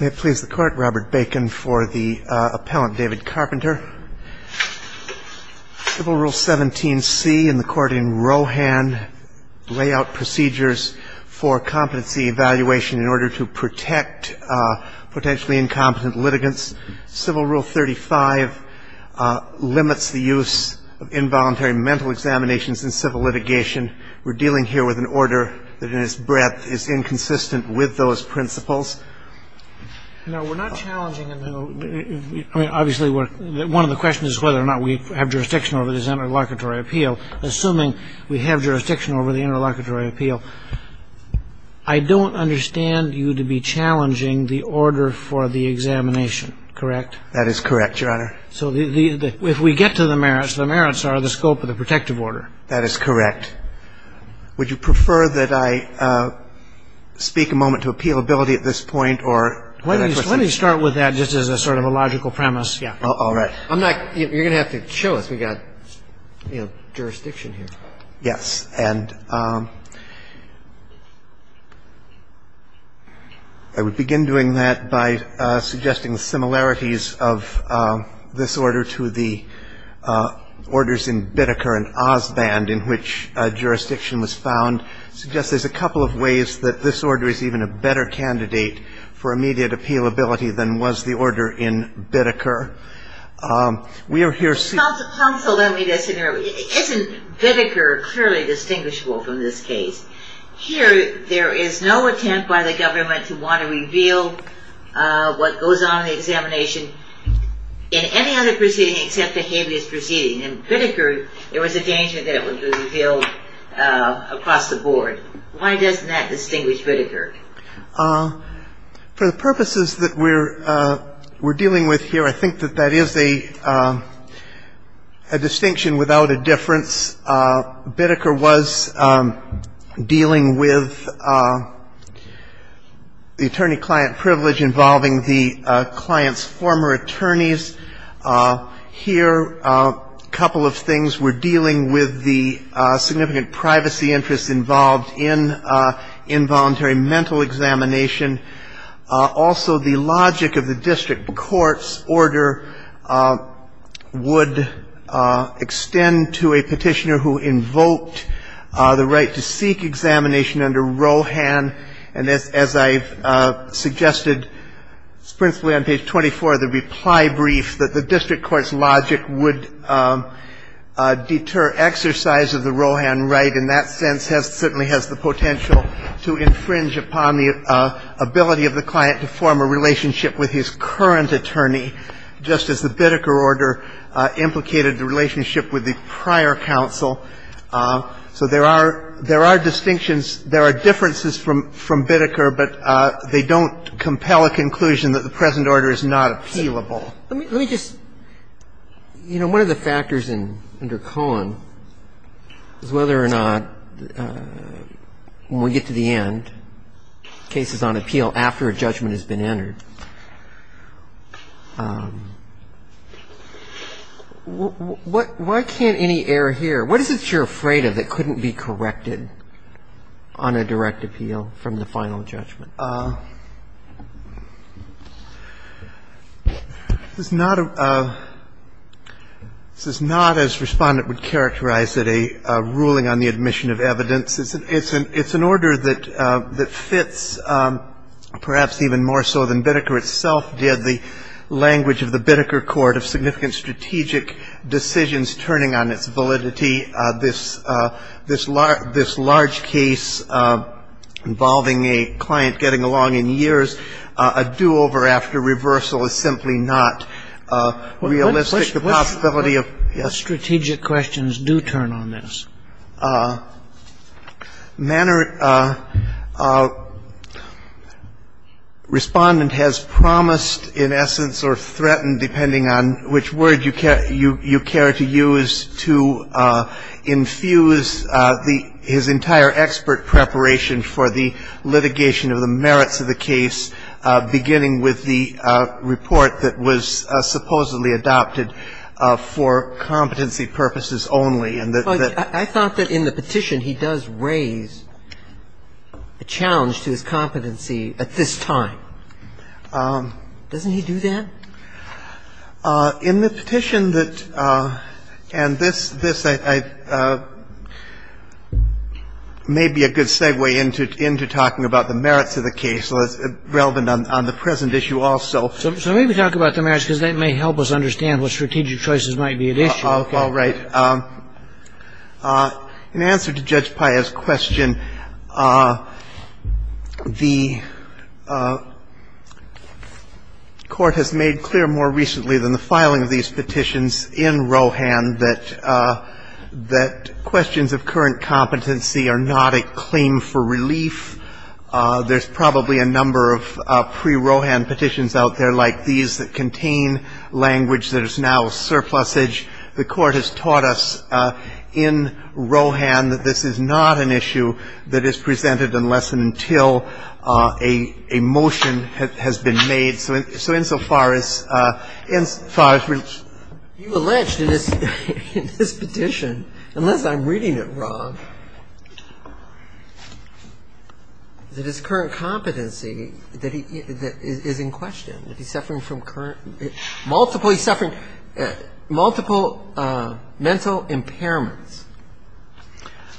May it please the Court, Robert Bacon for the appellant, David Carpenter. Civil Rule 17c in the court in Rohan, lay out procedures for competency evaluation in order to protect potentially incompetent litigants. Civil Rule 35 limits the use of involuntary mental examinations in civil litigation. We're dealing here with an order that in its breadth is inconsistent with those principles. No, we're not challenging. I mean, obviously, one of the questions is whether or not we have jurisdiction over this interlocutory appeal. Assuming we have jurisdiction over the interlocutory appeal, I don't understand you to be challenging the order for the examination. Correct? That is correct, Your Honor. So if we get to the merits, the merits are the scope of the protective order. That is correct. Would you prefer that I speak a moment to appealability at this point, or do I have a question? Let me start with that just as a sort of a logical premise. All right. You're going to have to show us we've got jurisdiction here. Yes. And I would begin doing that by suggesting the similarities of this order to the orders in Biddeker and Osband, in which jurisdiction was found, suggests there's a couple of ways that this order is even a better candidate for immediate appealability than was the order in Biddeker. We are here seeing Counsel, let me just interrupt. Isn't Biddeker clearly distinguishable from this case? Here, there is no attempt by the government to want to reveal what goes on in the examination in any other proceeding except the habeas proceeding. In Biddeker, there was a danger that it would be revealed across the board. Why doesn't that distinguish Biddeker? For the purposes that we're dealing with here, I think that that is a distinction without a difference. Biddeker was dealing with the attorney-client privilege involving the client's former attorneys. Here, a couple of things. We're dealing with the significant privacy interests involved in involuntary mental examination. Also, the logic of the district court's order would extend to a petitioner who invoked the right to seek examination under Rohan. And as I've suggested principally on page 24 of the reply brief, that the district court's logic would deter exercise of the Rohan right in that sense certainly has the potential to infringe upon the ability of the client to form a relationship with his current attorney, just as the Biddeker order implicated the relationship with the prior counsel. So there are distinctions, there are differences from Biddeker, but they don't compel a conclusion that the present order is not appealable. Let me just, you know, one of the factors under Cohen is whether or not when we get to the end, cases on appeal after a judgment has been entered, why can't any error here? What is it you're afraid of that couldn't be corrected on a direct appeal from the final judgment? This is not as Respondent would characterize it, a ruling on the admission of evidence. It's an order that fits perhaps even more so than Biddeker itself did, the language of the Biddeker court of significant strategic decisions turning on its validity. This large case involving a client getting along in years, a do-over after reversal is simply not realistic, the possibility of yes. What strategic questions do turn on this? Mannert, Respondent has promised in essence or threatened, depending on which word you care to use, to infuse his entire expert preparation for the litigation of the merits of the case, beginning with the report that was supposedly adopted for competency purposes only. I thought that in the petition he does raise a challenge to his competency at this time. Doesn't he do that? In the petition that – and this may be a good segue into talking about the merits of the case, so it's relevant on the present issue also. So maybe talk about the merits because that may help us understand what strategic choices might be at issue. All right. In answer to Judge Paya's question, the court has made clear more recently than the filing of these petitions in Rohan that questions of current competency are not a claim for relief. There's probably a number of pre-Rohan petitions out there like these that contain language that is now surplusage. The court has taught us in Rohan that this is not an issue that is presented unless and until a motion has been made. So insofar as – insofar as – You alleged in this petition, unless I'm reading it wrong, that his current competency is in question, that he's suffering from current – multiple – he's suffering multiple mental impairments.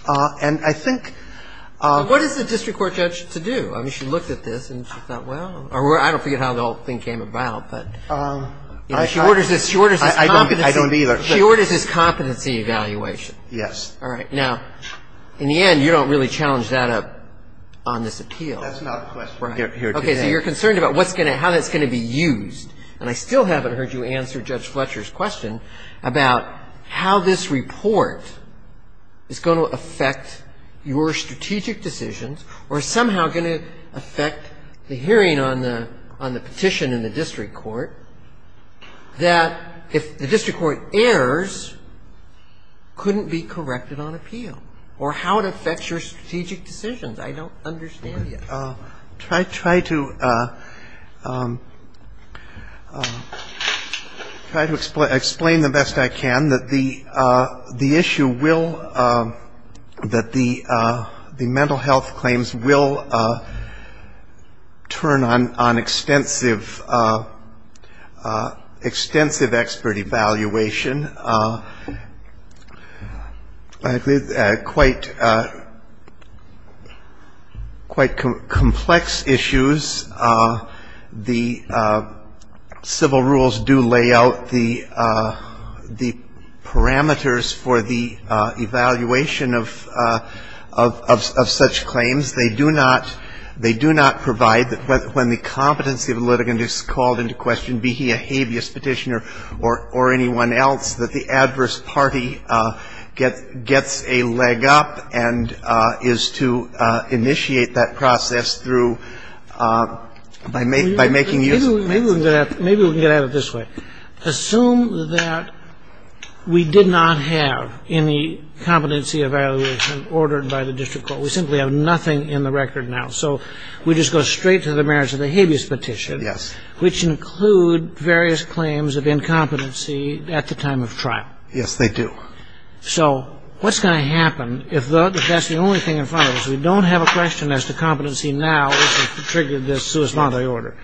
And I think – What is the district court judge to do? I mean, she looked at this and she thought, well – or I don't forget how the whole thing came about, but she orders his competency – I don't either. She orders his competency evaluation. Yes. All right. Now, in the end, you don't really challenge that on this appeal. That's not a question we're going to get here today. Okay. So you're concerned about what's going to – how that's going to be used. And I still haven't heard you answer Judge Fletcher's question about how this report is going to affect your strategic decisions or is somehow going to affect the hearing on the petition in the district court, that if the district court errs, couldn't be corrected on appeal, or how it affects your strategic decisions. I don't understand yet. Try to – try to explain the best I can that the issue will – that the mental health claims will turn on extensive – extensive expert evaluation. I agree. Quite – quite complex issues. The civil rules do lay out the parameters for the evaluation of such claims. They do not – they do not provide – when the competency of a litigant is called into question, be he a habeas petitioner or anyone else, that the adverse party gets a leg up and is to initiate that process through – by making use of – Maybe we can get at it this way. Assume that we did not have any competency evaluation ordered by the district court. We simply have nothing in the record now. So we just go straight to the merits of the habeas petition. Yes. Which include various claims of incompetency at the time of trial. Yes, they do. So what's going to happen if that's the only thing in front of us? We don't have a question as to competency now, which has triggered this sui sponte order.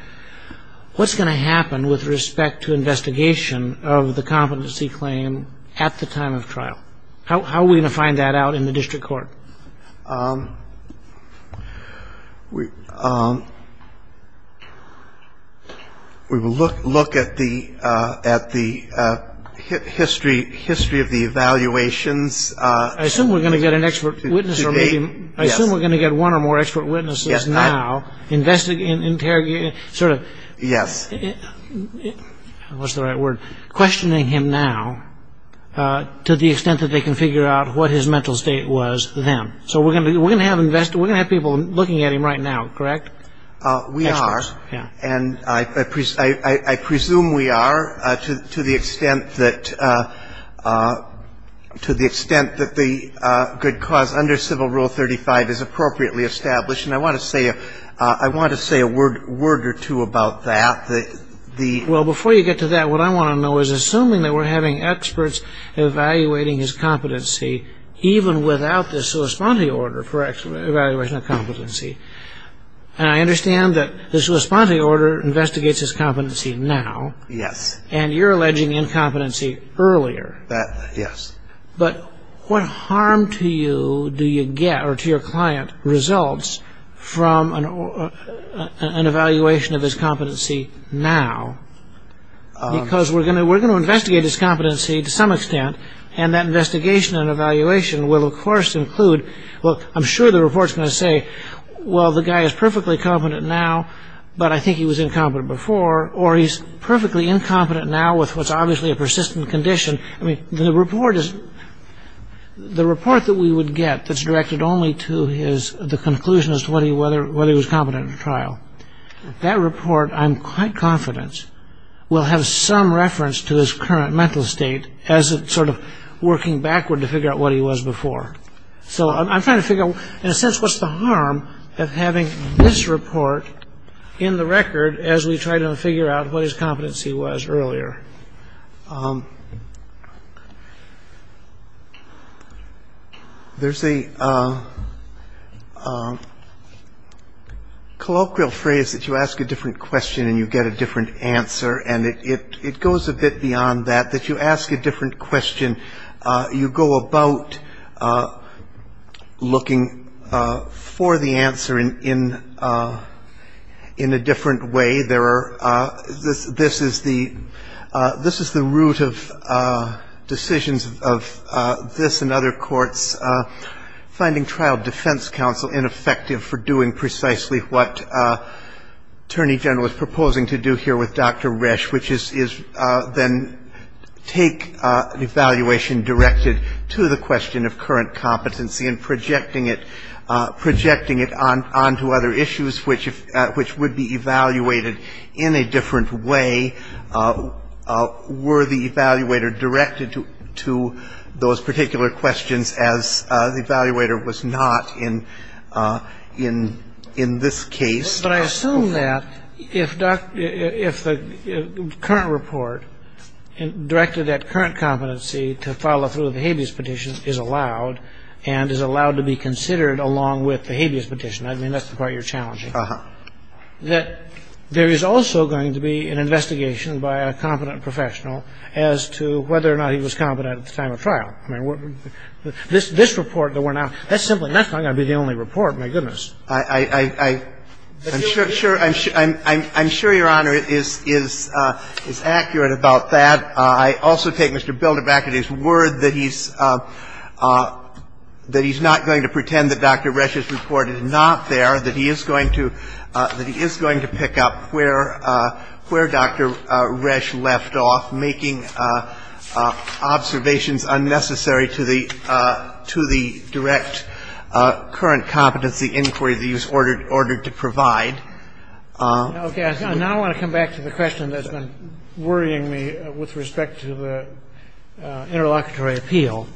What's going to happen with respect to investigation of the competency claim at the time of trial? How are we going to find that out in the district court? We will look at the history of the evaluations. I assume we're going to get an expert witness. I assume we're going to get one or more expert witnesses now investigating and interrogating – sort of – Yes. What's the right word? Questioning him now to the extent that they can figure out what his mental state was the next day. So we're going to have people looking at him right now, correct? We are. And I presume we are to the extent that the good cause under Civil Rule 35 is appropriately established. And I want to say a word or two about that. Well, before you get to that, what I want to know is, assuming that we're having experts evaluating his competency, even without the sua sponte order for evaluation of competency, and I understand that the sua sponte order investigates his competency now. Yes. And you're alleging incompetency earlier. Yes. But what harm to you do you get, or to your client, results from an evaluation of his competency now? Because we're going to investigate his competency to some extent, and that investigation and evaluation will, of course, include – well, I'm sure the report's going to say, well, the guy is perfectly competent now, but I think he was incompetent before, or he's perfectly incompetent now with what's obviously a persistent condition. I mean, the report that we would get that's directed only to the conclusion as to whether he was competent at trial, that report, I'm quite confident, will have some reference to his current mental state as it's sort of working backward to figure out what he was before. So I'm trying to figure out, in a sense, what's the harm of having this report in the record as we try to figure out what his competency was earlier. There's a colloquial phrase that you ask a different question and you get a different answer, and it goes a bit beyond that, that you ask a different question, you go about looking for the answer in a different way. This is the root of decisions of this and other courts, finding trial defense counsel ineffective for doing precisely what Attorney General is proposing to do here with Dr. Resch, which is then take an evaluation directed to the question of current competency and projecting it onto other issues which would be evaluated in a different way. Were the evaluator directed to those particular questions as the evaluator was not in this case? But I assume that if the current report directed at current competency to follow through with the habeas petition is allowed and is allowed to be considered along with the habeas petition, I mean, that's the part you're challenging, that there is also going to be an investigation by a competent professional I mean, this report that went out, that's simply not going to be the only report. My goodness. I'm sure Your Honor is accurate about that. I also take Mr. Builder back at his word that he's not going to pretend that Dr. Resch's report is not there, that he is going to pick up where Dr. Resch left off, making observations unnecessary to the direct current competency inquiry that he was ordered to provide. Now I want to come back to the question that's been worrying me with respect to the interlocutory appeal.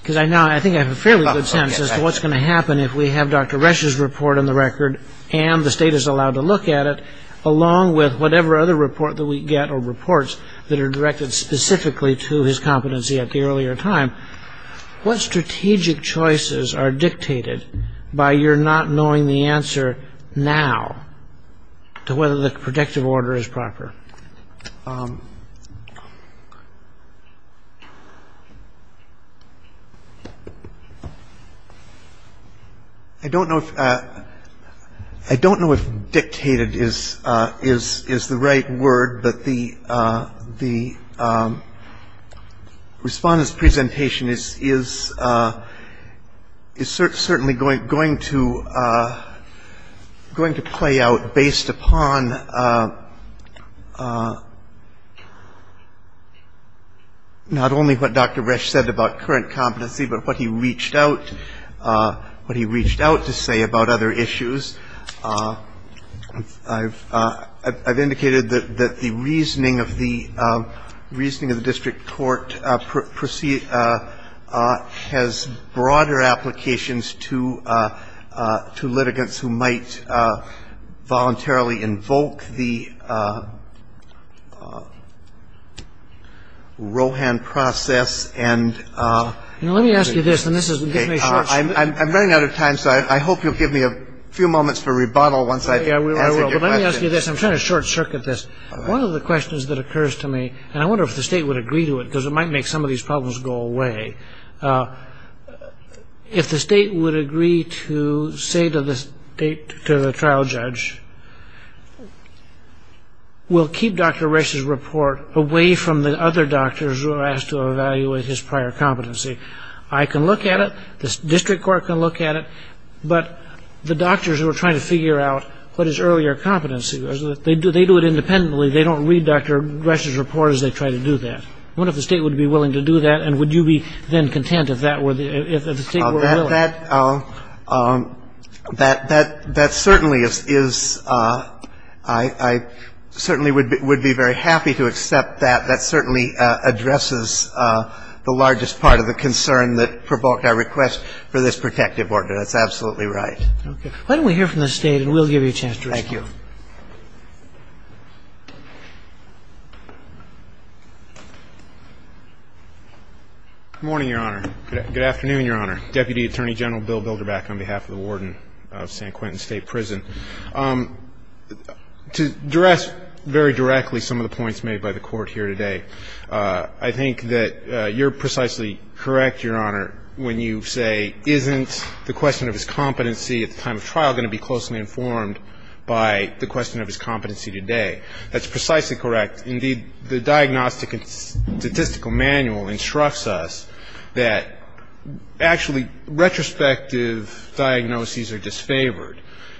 Because I think I have a fairly good sense as to what's going to happen if we have Dr. Resch's report on the record and the state is allowed to look at it, along with whatever other report that we get or reports that are directed specifically to his competency at the earlier time. What strategic choices are dictated by your not knowing the answer now I don't know if dictated is the right word, but the Respondent's presentation is certainly going to play out based upon not only what Dr. Resch said about current competency, but what he reached out to say about other issues. I've indicated that the reasoning of the district court has broader applications to litigants who might voluntarily invoke the Rohan process. I'm running out of time, so I hope you'll give me a few moments for rebuttal. I'm trying to short circuit this. One of the questions that occurs to me, and I wonder if the state would agree to it, because it might make some of these problems go away. If the state would agree to say to the trial judge, we'll keep Dr. Resch's report away from the other doctors who are asked to evaluate his prior competency. I can look at it, the district court can look at it, but the doctors who are trying to figure out what his earlier competency was, they do it independently, they don't read Dr. Resch's report as they try to do that. I wonder if the state would be willing to do that, and would you be then content if the state were willing? That certainly is, I certainly would be very happy to accept that. That certainly addresses the largest part of the concern that provoked our request for this protective order. That's absolutely right. Okay. Why don't we hear from the state, and we'll give you a chance to respond. Thank you. Good morning, Your Honor. Good afternoon, Your Honor. Deputy Attorney General Bill Bilderbach on behalf of the Warden of San Quentin State Prison. To address very directly some of the points made by the Court here today, I think that you're precisely correct, Your Honor, when you say isn't the question of his competency at the time of trial going to be closely informed by the question of his competency today. That's precisely correct. Indeed, the Diagnostic and Statistical Manual instructs us that, actually, retrospective diagnoses are disfavored,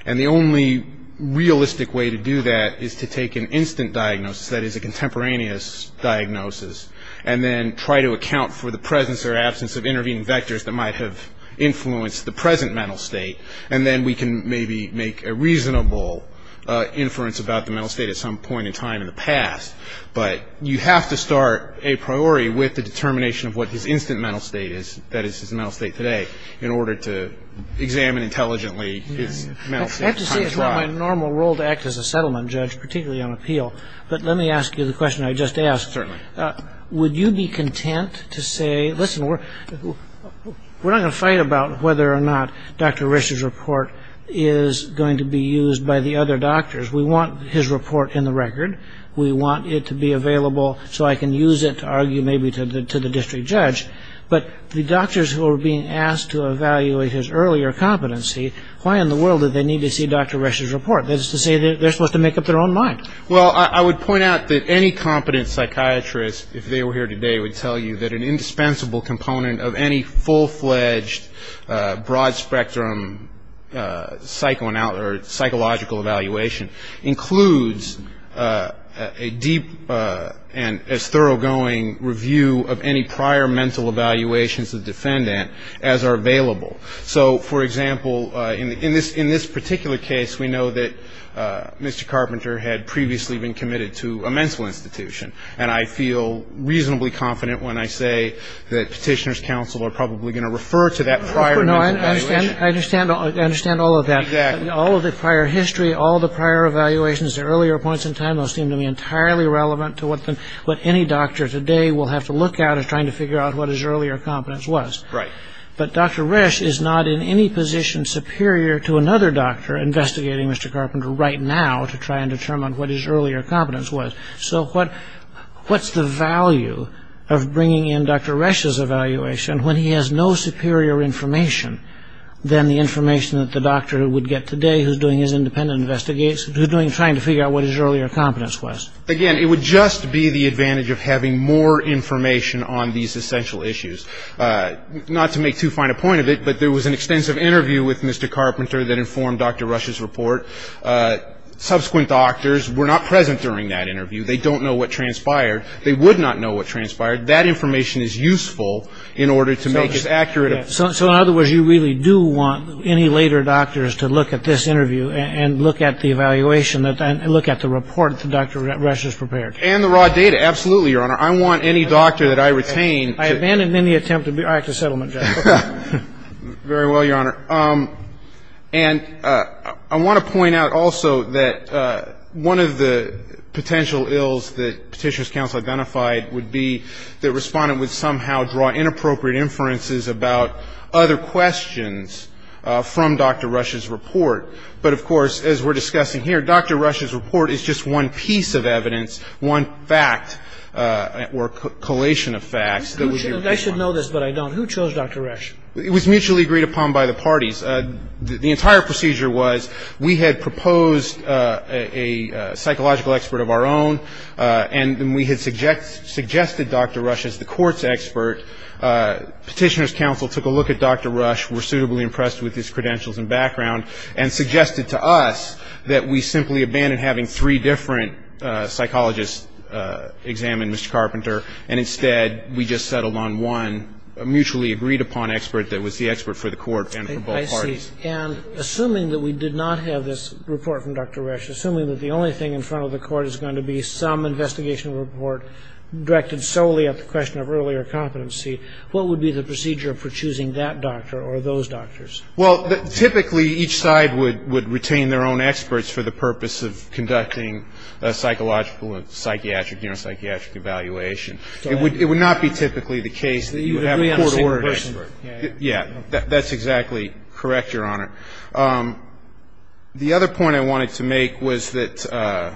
and the only realistic way to do that is to take an instant diagnosis, that is a contemporaneous diagnosis, and then try to account for the presence or absence of intervening vectors that might have influenced the present mental state, and then we can maybe make a reasonable inference about the mental state at some point in time in the past. But you have to start a priori with the determination of what his instant mental state is, that is his mental state today, in order to examine intelligently his mental state. I have to say it's not my normal role to act as a settlement judge, particularly on appeal, but let me ask you the question I just asked. Certainly. Would you be content to say, listen, we're not going to fight about whether or not Dr. Risch's report is going to be used by the other doctors. We want his report in the record. We want it to be available so I can use it to argue maybe to the district judge. But the doctors who are being asked to evaluate his earlier competency, why in the world do they need to see Dr. Risch's report? That is to say they're supposed to make up their own mind. Well, I would point out that any competent psychiatrist, if they were here today, would tell you that an indispensable component of any full-fledged, broad-spectrum psychological evaluation includes a deep and as thoroughgoing review of any prior mental evaluations of the defendant as are available. So, for example, in this particular case, we know that Mr. Carpenter had previously been committed to a mental institution, and I feel reasonably confident when I say that Petitioner's Counsel are probably going to refer to that prior mental evaluation. I understand all of that. Exactly. All of the prior history, all of the prior evaluations, the earlier points in time those seem to be entirely relevant to what any doctor today will have to look at as trying to figure out what his earlier competence was. Right. But Dr. Risch is not in any position superior to another doctor investigating Mr. Carpenter right now to try and determine what his earlier competence was. So what's the value of bringing in Dr. Risch's evaluation when he has no superior information than the information that the doctor would get today who's doing his independent investigation, who's trying to figure out what his earlier competence was? Again, it would just be the advantage of having more information on these essential issues. Not to make too fine a point of it, but there was an extensive interview with Mr. Carpenter that informed Dr. Risch's report. Subsequent doctors were not present during that interview. They don't know what transpired. They would not know what transpired. That information is useful in order to make it accurate. So in other words, you really do want any later doctors to look at this interview and look at the evaluation and look at the report that Dr. Risch has prepared. And the raw data. Absolutely, Your Honor. I want any doctor that I retain to be ---- I abandon any attempt to act as settlement judge. Very well, Your Honor. And I want to point out also that one of the potential ills that Petitioner's Counsel identified would be that Respondent would somehow draw inappropriate inferences about other questions from Dr. Risch's report. But, of course, as we're discussing here, Dr. Risch's report is just one piece of evidence, one fact or collation of facts that would be required. I should know this, but I don't. Who chose Dr. Risch? It was mutually agreed upon by the parties. The entire procedure was we had proposed a psychological expert of our own, and we had suggested Dr. Risch as the court's expert. Petitioner's Counsel took a look at Dr. Risch, were suitably impressed with his credentials and background, and suggested to us that we simply abandon having three different psychologists examined, Mr. Carpenter, and instead we just settled on one mutually agreed upon expert that was the expert for the court and for both parties. I see. And assuming that we did not have this report from Dr. Risch, assuming that the only thing in front of the court is going to be some investigation report directed solely at the question of earlier competency, what would be the procedure for choosing that doctor or those doctors? Yes. The only thing in front of the court is going to be a psychological, a psychiatric, you know, psychiatric evaluation. So it would not be typically the case that you would have a court order. You have to be on the same person. Yeah. That's exactly correct, Your Honor. The other point I wanted to make was that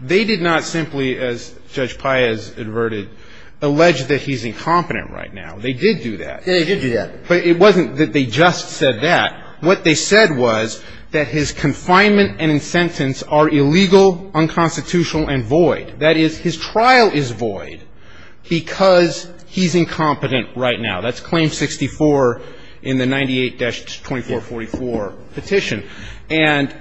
they did not simply, as Judge Pai is averted, allege that he's incompetent right now. They did do that. They did do that. But it wasn't that they just said that. What they said was that his confinement and his sentence are illegal, unconstitutional, and void. That is, his trial is void because he's incompetent right now. That's Claim 64 in the 98-2444 petition. And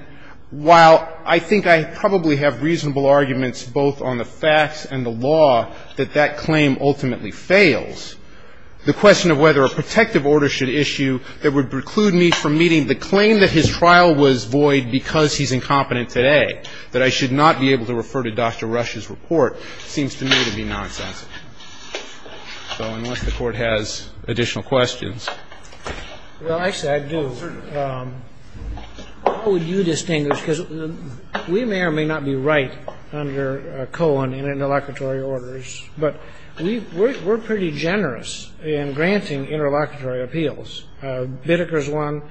while I think I probably have reasonable arguments both on the facts and the law that that claim ultimately fails, the question of whether a protective order should issue that would preclude me from meeting the claim that his trial was void because he's incompetent today, that I should not be able to refer to Dr. Rush's report, seems to me to be nonsense. So unless the Court has additional questions. Well, actually, I do. How would you distinguish? Because we may or may not be right under Cohen in interlocutory orders. But we're pretty generous in granting interlocutory appeals. Bitteker's one,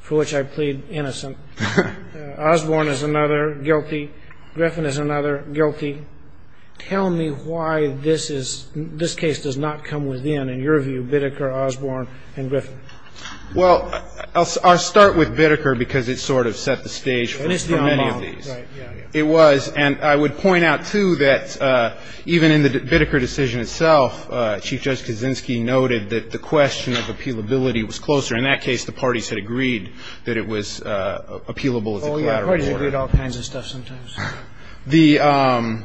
for which I plead innocent. Osborne is another, guilty. Griffin is another, guilty. Tell me why this case does not come within, in your view, Bitteker, Osborne, and Griffin. Well, I'll start with Bitteker because it sort of set the stage. And it's the unbonding. It was. And I would point out, too, that even in the Bitteker decision itself, Chief Judge Kaczynski noted that the question of appealability was closer. In that case, the parties had agreed that it was appealable as a collateral order. Oh, yeah. Parties agree on all kinds of stuff sometimes. The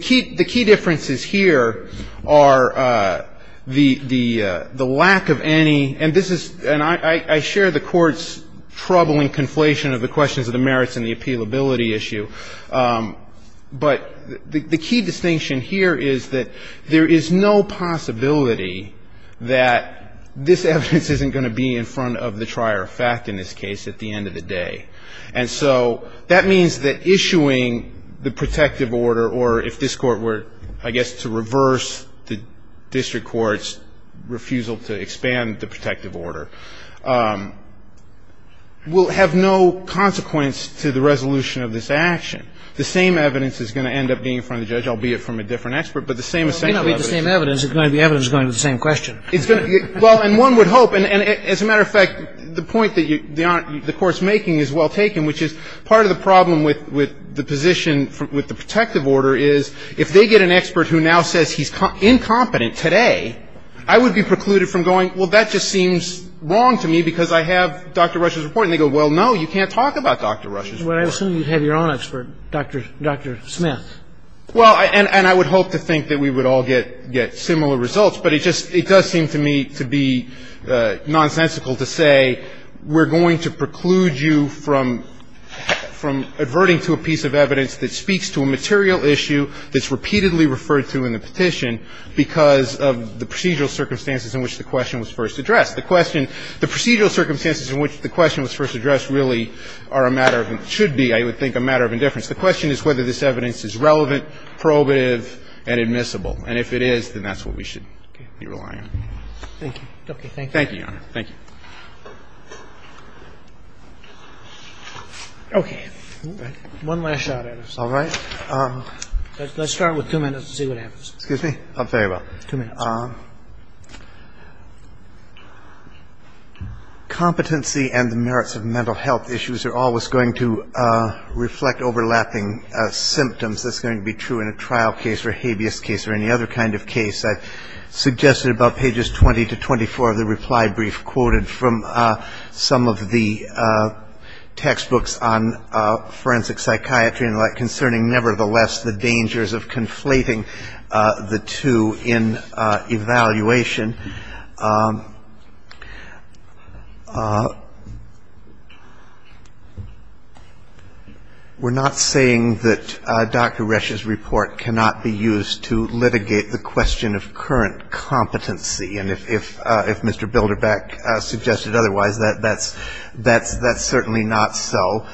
key differences here are the lack of any – and this is – and I share the Court's troubling conflation of the questions of the merits and the appealability issue, but the key distinction here is that there is no possibility that this evidence isn't going to be in front of the trier of fact in this case at the end of the day. And so that means that issuing the protective order, or if this Court were, I guess, to reverse the district court's refusal to expand the protective order, will have no consequence to the resolution of this action. The same evidence is going to end up being in front of the judge, albeit from a different expert, but the same essential evidence. Well, it may not be the same evidence. It's going to be evidence going to the same question. It's going to – well, and one would hope – and as a matter of fact, the point that the Court's making is well taken, which is part of the problem with the position with the protective order is if they get an expert who now says he's incompetent today, I would be precluded from going, well, that just seems wrong to me because I have Dr. Rush's report. And they go, well, no, you can't talk about Dr. Rush's report. Well, I assume you have your own expert, Dr. Smith. Well, and I would hope to think that we would all get similar results, but it just – it does seem to me to be nonsensical to say we're going to preclude you from adverting to a piece of evidence that speaks to a material issue that's repeatedly referred to in the petition because of the procedural circumstances in which the question was first addressed. The question – the procedural circumstances in which the question was first addressed really are a matter of – should be, I would think, a matter of indifference. The question is whether this evidence is relevant, probative, and admissible. And if it is, then that's what we should be relying on. Thank you. Thank you, Your Honor. Okay. One last shot at it. All right. Let's start with two minutes and see what happens. Excuse me. I'll tell you what. Two minutes. Competency and the merits of mental health issues are always going to reflect overlapping symptoms. That's going to be true in a trial case or a habeas case or any other kind of case. I suggested about pages 20 to 24 of the reply brief quoted from some of the textbooks on forensic psychiatry and the like concerning, nevertheless, the dangers of conflating the two in evaluation. We're not saying that Dr. Resch's report cannot be used to litigate the question of current competency, and if Mr. Bilderbach suggested otherwise, that's certainly not so.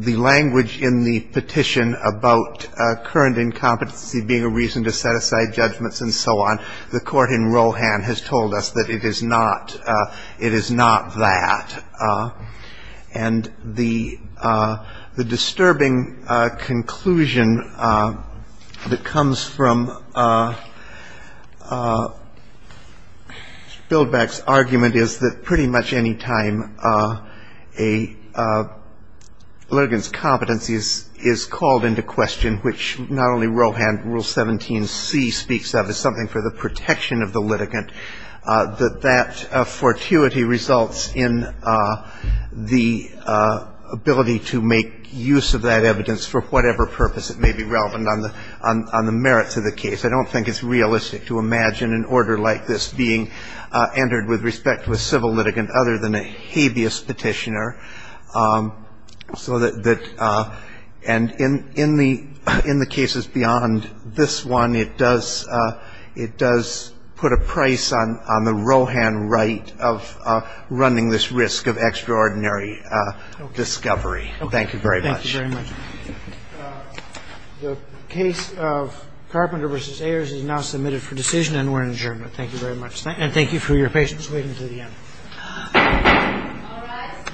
The language in the petition about current incompetency being a reason to set aside judgments and so on, the court in Rohan has told us that it is not that. And the disturbing conclusion that comes from Bilderbach's argument is that pretty much any time a litigant's competency is called into question, which not only Rohan, Rule 17c speaks of, protection of the litigant, that that fortuity results in the ability to make use of that evidence for whatever purpose it may be relevant on the merits of the case. I don't think it's realistic to imagine an order like this being entered with respect to a civil litigant other than a habeas petitioner. So that and in the cases beyond this one, it does put a price on the Rohan right of running this risk of extraordinary discovery. Thank you very much. Thank you very much. The case of Carpenter v. Ayers is now submitted for decision and we're adjourned. Thank you very much. And thank you for your patience waiting until the end. All rise.